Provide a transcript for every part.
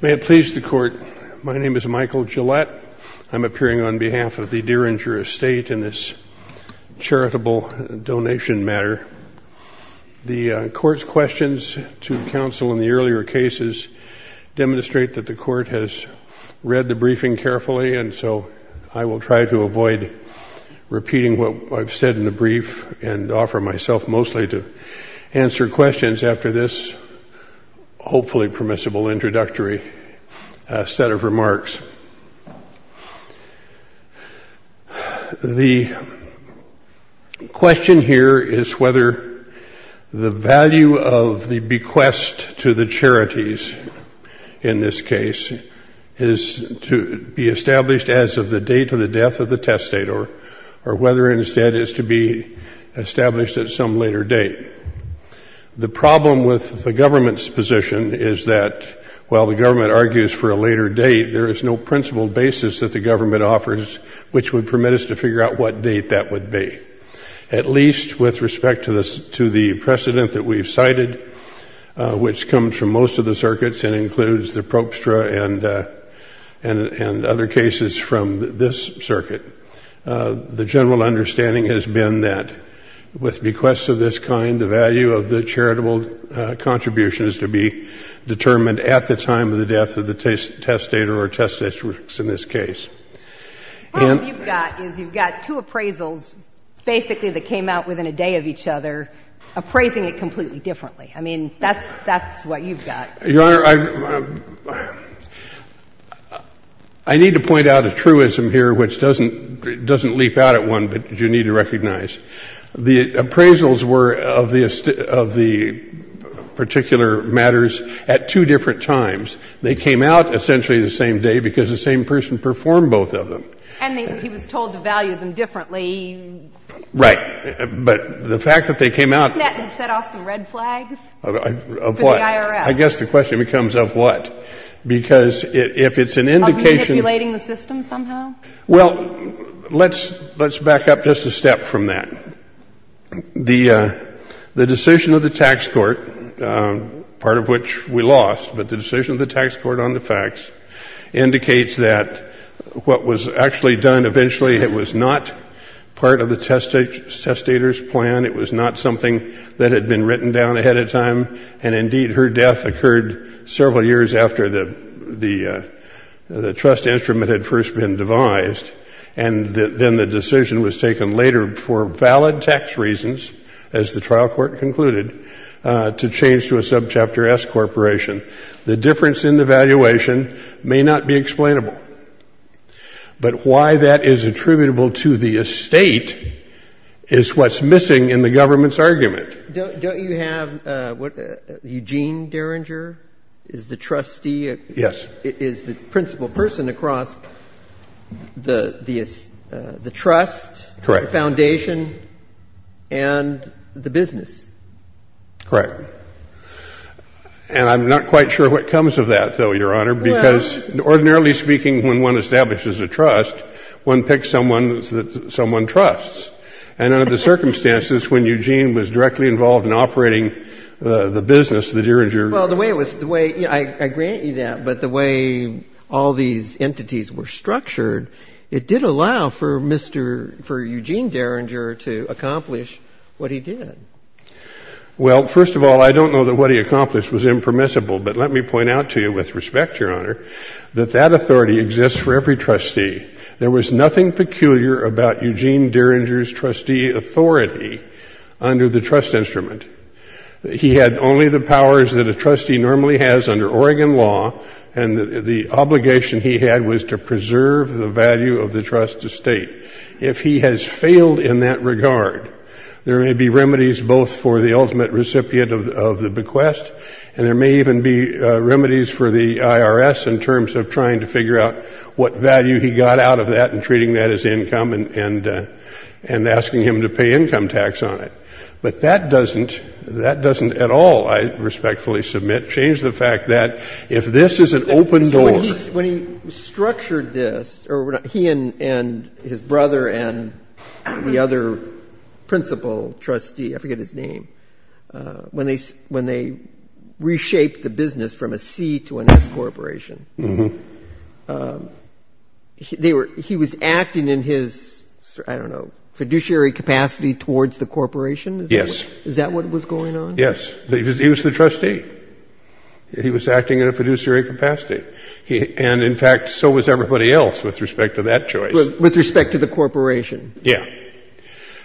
May it please the court, my name is Michael Gillette. I'm appearing on behalf of the Dieringer estate in this charitable donation matter. The court's questions to counsel in the earlier cases demonstrate that the court has read the briefing carefully and so I will try to avoid repeating what I've said in the brief and offer myself mostly to answer questions after this hopefully permissible introductory set of remarks. The question here is whether the value of the bequest to the charities in this case is to be established as of the date of the death of the testator or whether instead is to be established at some later date. The problem with the government position is that while the government argues for a later date, there is no principled basis that the government offers which would permit us to figure out what date that would be. At least with respect to this to the precedent that we've cited, which comes from most of the circuits and includes the probstra and other cases from this circuit, the general understanding has been that with bequests of this kind, the value of the charitable contribution is to be determined at the time of the death of the testator or testatrix in this case. And you've got is you've got two appraisals basically that came out within a day of each other, appraising it completely differently. I mean, that's what you've got. Your Honor, I need to point out a truism here which doesn't leap out at one, but you need to recognize. The appraisals were of the particular matters at two different times. They came out essentially the same day because the same person performed both of them. And he was told to value them differently. Right. But the fact that they came out They set off some red flags. Of what? For the IRS. I guess the question becomes of what? Because if it's an indication Of manipulating the system somehow? Well, let's back up just a step from that. The decision of the tax court, part of which we lost, but the decision of the tax court on the facts indicates that what was actually done eventually, it was not part of the testator's plan. It was not something that had been written down ahead of time. And indeed, her death occurred several years after the trust instrument had first been devised. And then the decision was taken later for valid tax reasons, as the trial court concluded, to change to a subchapter S corporation. The difference in the valuation may not be explainable. But why that is attributable to the estate is what's missing in the government's argument. Don't you have, Eugene Derringer is the trustee? Yes. Is the principal person across the trust, the foundation, and the business? Correct. And I'm not quite sure what comes of that, though, Your Honor, because ordinarily speaking, when one establishes a trust, one picks someone that someone trusts. And under the circumstances, when Eugene was directly involved in operating the business, the Derringer. Well, the way it was, the way, I grant you that, but the way all these entities were structured, it did allow for Eugene Derringer to accomplish what he did. Well, first of all, I don't know that what he accomplished was impermissible. But let me point out to you, with respect, Your Honor, that that authority exists for every trustee. There was nothing peculiar about Eugene Derringer's trustee authority under the trust instrument. He had only the powers that a trustee normally has under Oregon law, and the obligation he had was to preserve the value of the trust estate. If he has failed in that regard, there may be remedies both for the ultimate recipient of the bequest, and there may even be remedies for the IRS in terms of trying to figure out what value he got out of that and treating that as income and asking him to pay income tax on it. But that doesn't, that doesn't at all, I respectfully submit, change the fact that if this is an open door. So when he structured this, or he and his brother and the other principal trustee, I forget his name, when they reshaped the business from a C to an S corporation, they were, he was acting in his, I don't know, fiduciary capacity towards the corporation? Yes. Is that what was going on? Yes. He was the trustee. He was acting in a fiduciary capacity. And, in fact, so was everybody else with respect to that choice. With respect to the corporation? Yes.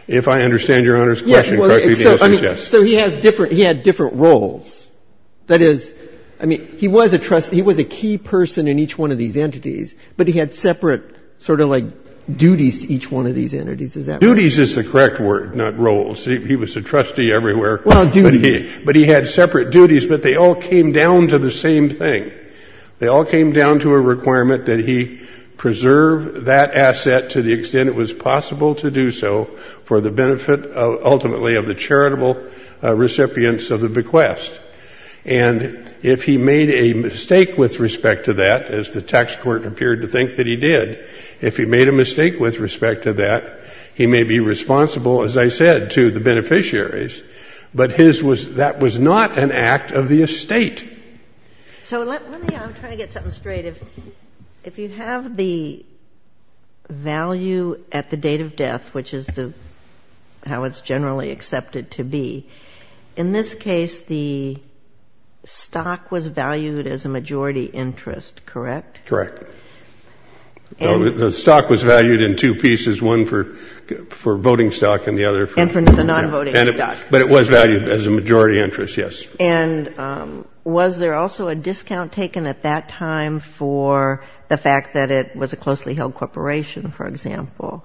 If I understand Your Honor's question correctly, the answer is yes. So he has different, he had different roles. That is, I mean, he was a trustee, he was a key person in each one of these entities, but he had separate sort of like duties to each one of these entities. Is that right? Duties is the correct word, not roles. He was a trustee everywhere. Well, duties. But he had separate duties, but they all came down to the same thing. They all came down to a requirement that he preserve that asset to the extent it was And if he made a mistake with respect to that, as the tax court appeared to think that he did, if he made a mistake with respect to that, he may be responsible, as I said, to the beneficiaries. But his was, that was not an act of the estate. So let me, I'm trying to get something straight. If you have the value at the date of death, which is the, how it's generally accepted to be, in this case, the stock was valued as a majority interest, correct? Correct. The stock was valued in two pieces, one for voting stock and the other for. And for the non-voting stock. But it was valued as a majority interest, yes. And was there also a discount taken at that time for the fact that it was a closely held corporation, for example?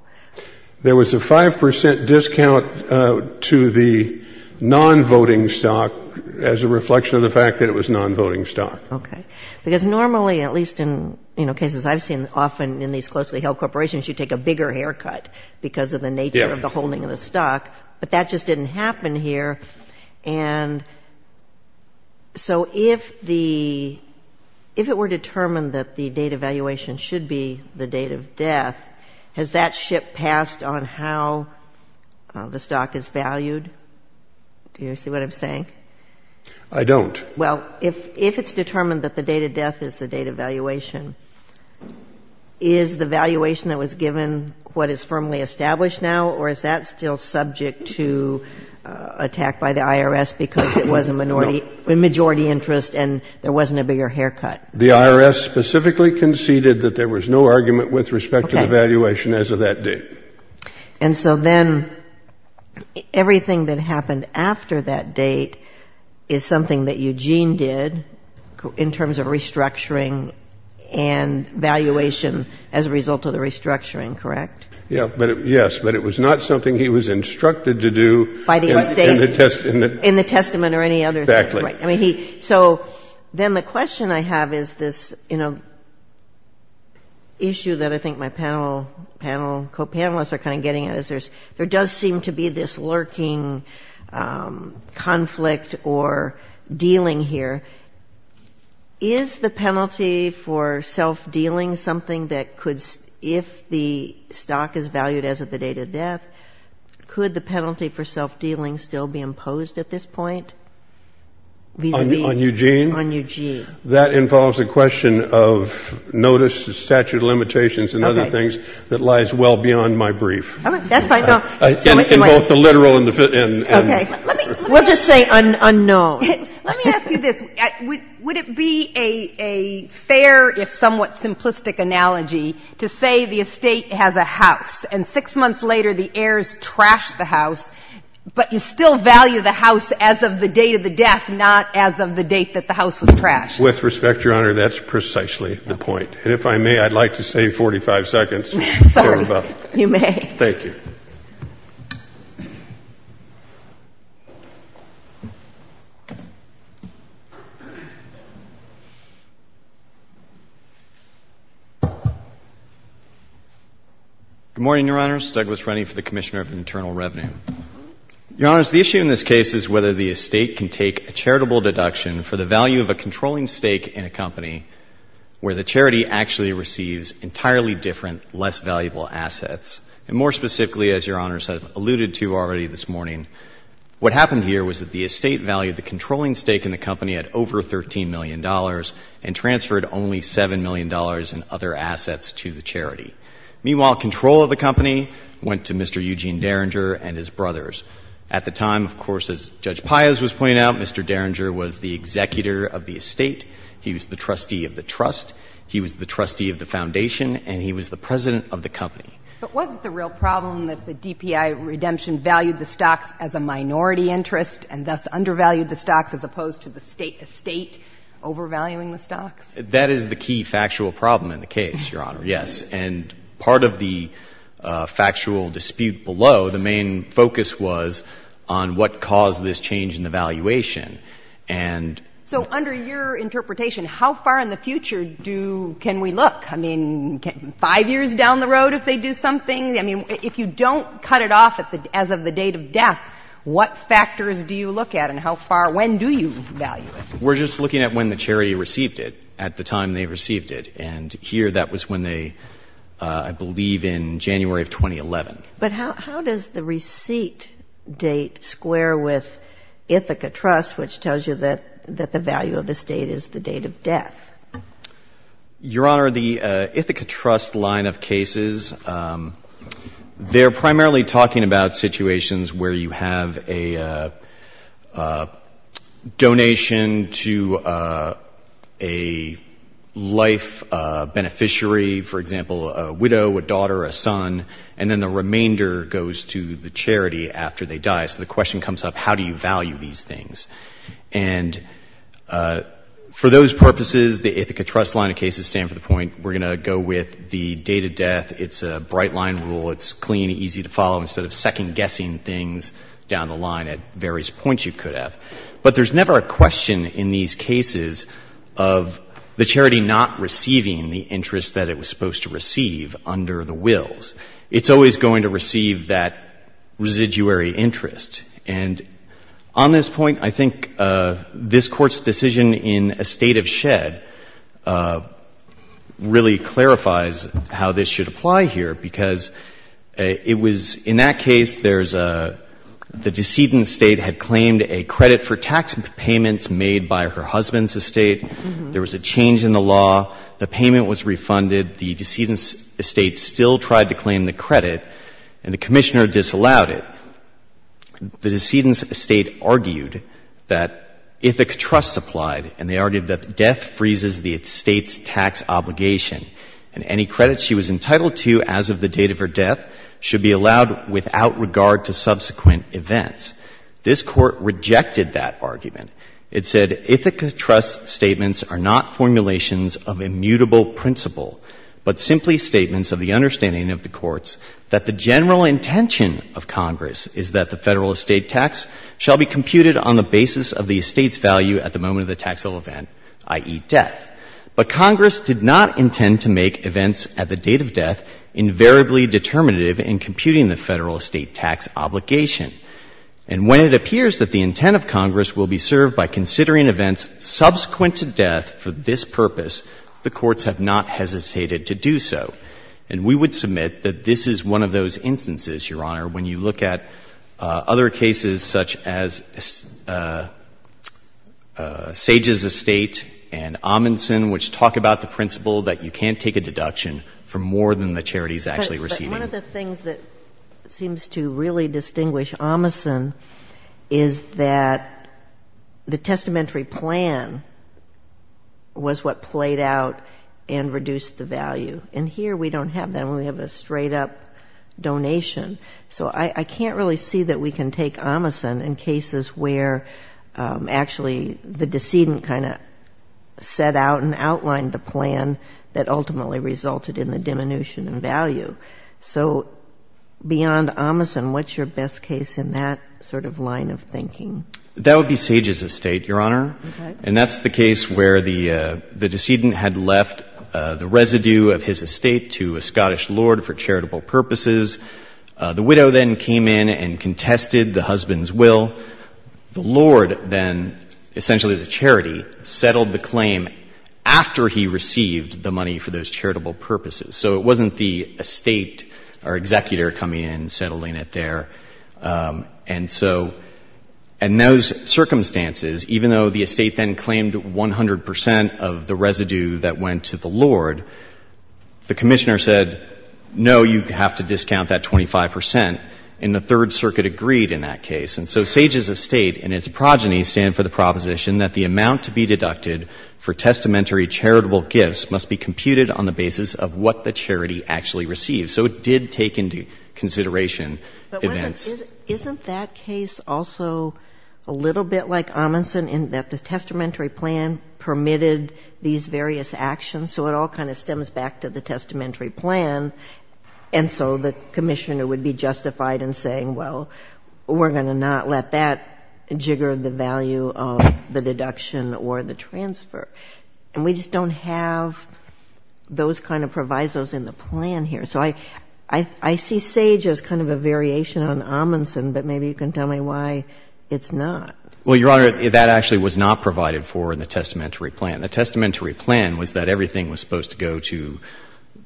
There was a 5% discount to the non-voting stock as a reflection of the fact that it was non-voting stock. Okay. Because normally, at least in cases I've seen often in these closely held corporations, you take a bigger haircut because of the nature of the holding of the stock. But that just didn't happen here. And so if the, if it were determined that the date of valuation should be the date of death, has that ship passed on how the stock is valued? Do you see what I'm saying? I don't. Well, if it's determined that the date of death is the date of valuation, is the valuation that was given what is firmly established now, or is that still subject to attack by the IRS because it was a majority interest and there wasn't a bigger haircut? The IRS specifically conceded that there was no argument with respect to the valuation as of that date. And so then everything that happened after that date is something that Eugene did in terms of restructuring and valuation as a result of the restructuring, correct? Yes. But it was not something he was instructed to do in the testament or any other thing. Exactly. So then the question I have is this issue that I think my panel, co-panelists are kind of getting at, is there does seem to be this lurking conflict or dealing here. Is the penalty for self-dealing something that could, if the stock is valued as of the date of death, could the penalty for self-dealing still be imposed at this point vis-à-vis? On Eugene? On Eugene. That involves a question of notice, statute of limitations and other things that lies well beyond my brief. All right. That's fine. In both the literal and the... Okay. Let me... We'll just say unknown. Let me ask you this. Would it be a fair if somewhat simplistic analogy to say the estate has a house and six months later the heirs trash the house, but you still value the house as of the date of the death, not as of the date that the house was trashed? With respect, Your Honor, that's precisely the point. And if I may, I'd like to save 45 seconds. Sorry. You may. Thank you. Good morning, Your Honors. Douglas Rennie for the Commissioner of Internal Revenue. Your Honors, the issue in this case is whether the estate can take a charitable deduction for the value of a controlling stake in a company where the charity actually receives entirely different, less valuable assets, where the charity actually receives entirely different, less valuable assets. Specifically, as Your Honors have alluded to already this morning, what happened here was that the estate valued the controlling stake in the company at over $13 million and transferred only $7 million in other assets to the charity. Meanwhile, control of the company went to Mr. Eugene Derringer and his brothers. At the time, of course, as Judge Paez was pointing out, Mr. Derringer was the executor of the estate. He was the trustee of the trust. He was the trustee of the foundation. And he was the president of the company. But wasn't the real problem that the DPI redemption valued the stocks as a minority interest and thus undervalued the stocks as opposed to the estate overvaluing the stocks? That is the key factual problem in the case, Your Honor, yes. And part of the factual dispute below, the main focus was on what caused this change in the valuation. So under your interpretation, how far in the future can we look? I mean, five years down the road if they do something? I mean, if you don't cut it off as of the date of death, what factors do you look at and how far? When do you value it? We're just looking at when the charity received it at the time they received it. And here that was when they, I believe, in January of 2011. But how does the receipt date square with Ithaca Trust, which tells you that the value of the estate is the date of death? Your Honor, the Ithaca Trust line of cases, they're primarily talking about situations where you have a donation to a life beneficiary, for example, a widow, a daughter, a son, and then the remainder goes to the charity after they die. So the question comes up, how do you value these things? And for those purposes, the Ithaca Trust line of cases stand for the point we're going to go with the date of death. It's a bright-line rule. It's clean, easy to follow, instead of second-guessing things down the line at various points you could have. But there's never a question in these cases of the charity not receiving the interest that it was supposed to receive under the wills. It's always going to receive that residuary interest. And on this point, I think this Court's decision in a state of shed really clarifies how this should apply here, because it was — in that case, there's a — the decedent's estate had claimed a credit for tax payments made by her husband's estate. There was a change in the law. The payment was refunded. The decedent's estate still tried to claim the credit, and the Commissioner disallowed it. Now, the decedent's estate argued that Ithaca Trust applied, and they argued that death freezes the estate's tax obligation, and any credit she was entitled to as of the date of her death should be allowed without regard to subsequent events. This Court rejected that argument. It said, Ithaca Trust's statements are not formulations of immutable principle, but simply statements of the understanding of the courts that the general intention of Congress is that the Federal estate tax shall be computed on the basis of the estate's value at the moment of the taxable event, i.e., death. But Congress did not intend to make events at the date of death invariably determinative in computing the Federal estate tax obligation. And when it appears that the intent of Congress will be served by considering events subsequent to death for this purpose, the courts have not hesitated to do so. And we would submit that this is one of those instances, Your Honor, when you look at other cases such as Sages Estate and Amundsen, which talk about the principle that you can't take a deduction for more than the charity is actually receiving. One of the things that seems to really distinguish Amundsen is that the testamentary plan was what played out and reduced the value. And here we don't have that. We only have a straight-up donation. So I can't really see that we can take Amundsen in cases where actually the decedent kind of set out and outlined the plan that ultimately resulted in the diminution in value. So beyond Amundsen, what's your best case in that sort of line of thinking? That would be Sages Estate, Your Honor. Okay. And that's the case where the decedent had left the residue of his estate to a Scottish lord for charitable purposes. The widow then came in and contested the husband's will. The lord then, essentially the charity, settled the claim after he received the money for those charitable purposes. So it wasn't the estate or executor coming in and settling it there. And so in those circumstances, even though the estate then claimed 100 percent of the residue that went to the lord, the commissioner said, no, you have to discount that 25 percent. And the Third Circuit agreed in that case. And so Sages Estate and its progeny stand for the proposition that the amount to be deducted for testamentary charitable gifts must be computed on the basis of what the charity actually received. So it did take into consideration events. But wasn't — isn't that case also a little bit like Amundsen in that the testamentary plan permitted these various actions? So it all kind of stems back to the testamentary plan. And so the commissioner would be justified in saying, well, we're going to not let that jigger the value of the deduction or the transfer. And we just don't have those kind of provisos in the plan here. So I see Sage as kind of a variation on Amundsen, but maybe you can tell me why it's not. Well, Your Honor, that actually was not provided for in the testamentary plan. The testamentary plan was that everything was supposed to go to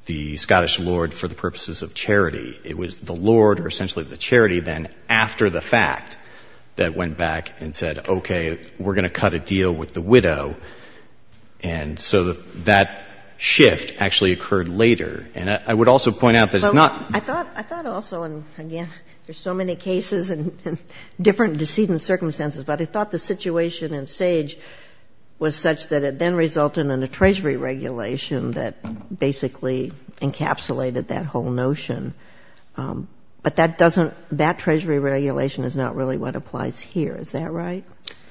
the Scottish Lord for the purposes of charity. It was the Lord or essentially the charity then after the fact that went back and said, okay, we're going to cut a deal with the widow. And so that shift actually occurred later. And I would also point out that it's not — But I thought — I thought also, and again, there's so many cases and different circumstances, but I thought the situation in Sage was such that it then resulted in a treasury regulation that basically encapsulated that whole notion. But that doesn't — that treasury regulation is not really what applies here. Is that right?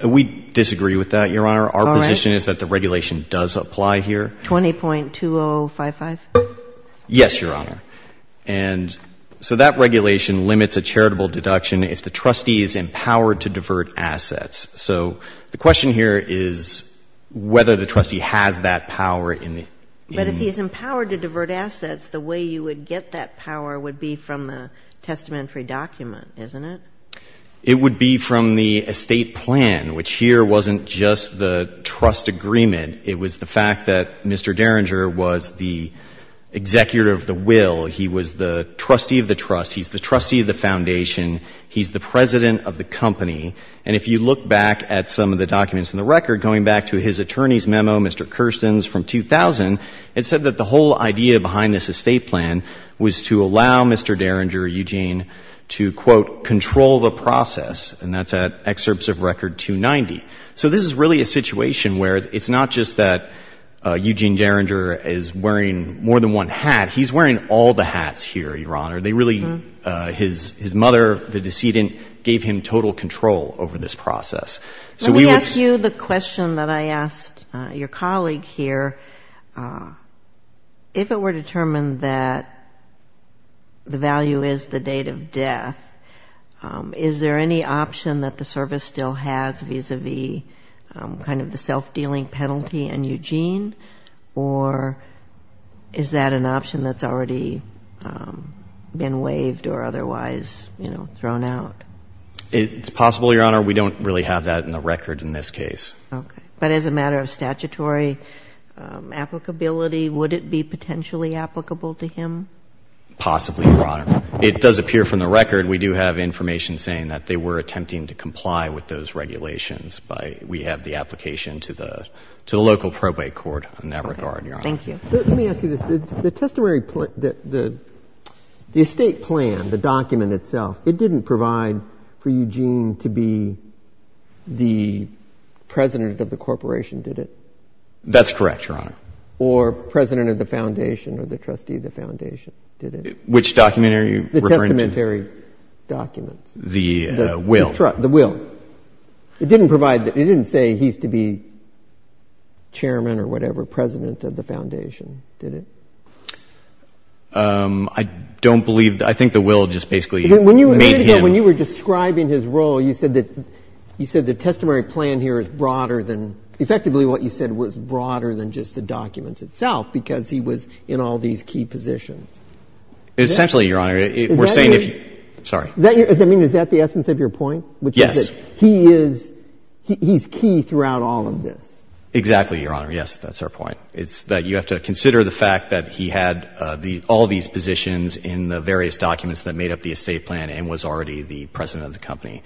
We disagree with that, Your Honor. All right. Our position is that the regulation does apply here. 20.2055? Yes, Your Honor. And so that regulation limits a charitable deduction if the trustees empower to divert assets. So the question here is whether the trustee has that power in the — But if he's empowered to divert assets, the way you would get that power would be from the testamentary document, isn't it? It would be from the estate plan, which here wasn't just the trust agreement. It was the fact that Mr. Derringer was the executive of the will. He was the trustee of the trust. He's the trustee of the foundation. He's the president of the company. And if you look back at some of the documents in the record, going back to his attorney's memo, Mr. Kerstens, from 2000, it said that the whole idea behind this estate plan was to allow Mr. Derringer, Eugene, to, quote, control the process. And that's at excerpts of Record 290. So this is really a situation where it's not just that Eugene Derringer is wearing more than one hat. He's wearing all the hats here, Your Honor. His mother, the decedent, gave him total control over this process. Let me ask you the question that I asked your colleague here. If it were determined that the value is the date of death, is there any option that the service still has vis-à-vis kind of the self-dealing penalty and Eugene? Or is that an option that's already been waived or otherwise thrown out? It's possible, Your Honor. We don't really have that in the record in this case. But as a matter of statutory applicability, would it be potentially applicable to him? Possibly, Your Honor. It does appear from the record we do have information saying that they were attempting to comply with those regulations. We have the application to the local probate court in that regard, Your Honor. Thank you. Let me ask you this. The estate plan, the document itself, it didn't provide for Eugene to be the president of the corporation, did it? That's correct, Your Honor. Or president of the foundation or the trustee of the foundation, did it? Which documentary are you referring to? The testamentary documents. The will. The will. It didn't provide, it didn't say he's to be chairman or whatever, president of the foundation, did it? I don't believe, I think the will just basically made him. When you were describing his role, you said that, you said the testamentary plan here is broader than, effectively what you said was broader than just the documents itself, because he was in all these key positions. Essentially, Your Honor, we're saying if you, sorry. Does that mean, is that the essence of your point? Yes. Which is that he is, he's key throughout all of this. Exactly, Your Honor. Yes, that's our point. It's that you have to consider the fact that he had all these positions in the various documents that made up the estate plan and was already the president of the company.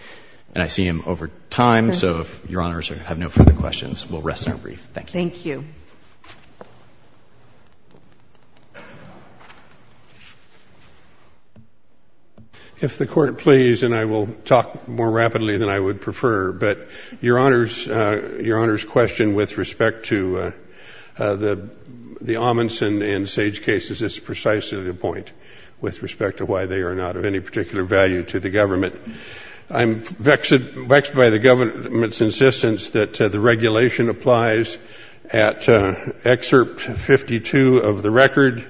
And I see him over time, so if Your Honors have no further questions, we'll rest our brief. Thank you. Thank you. If the Court please, and I will talk more rapidly than I would prefer, but Your Honor's question with respect to the Amundsen and Sage cases, is precisely the point with respect to why they are not of any particular value to the government. I'm vexed by the government's insistence that the regulation applies at excerpt 52 of the record,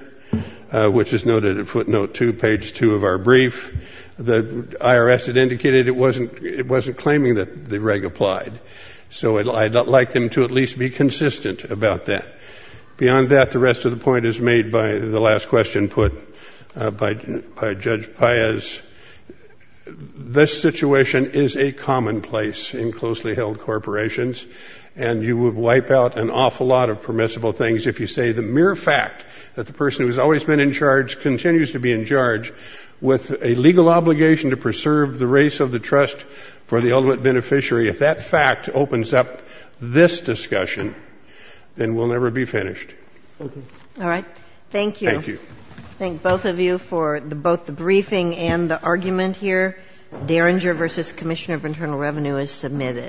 which is noted at footnote two, page two of our brief. The IRS had indicated it wasn't claiming that the reg applied. So I'd like them to at least be consistent about that. Beyond that, the rest of the point is made by the last question put by Judge Paez. This situation is a commonplace in closely held corporations, and you would wipe out an awful lot of permissible things if you say the mere fact that the person who has always been in charge continues to be in charge with a legal obligation to preserve the race of the trust for the ultimate beneficiary. If that fact opens up this discussion, then we'll never be finished. Okay. All right. Thank you. Thank you. Thank both of you for both the briefing and the argument here. Derringer v. Commissioner of Internal Revenue is submitted.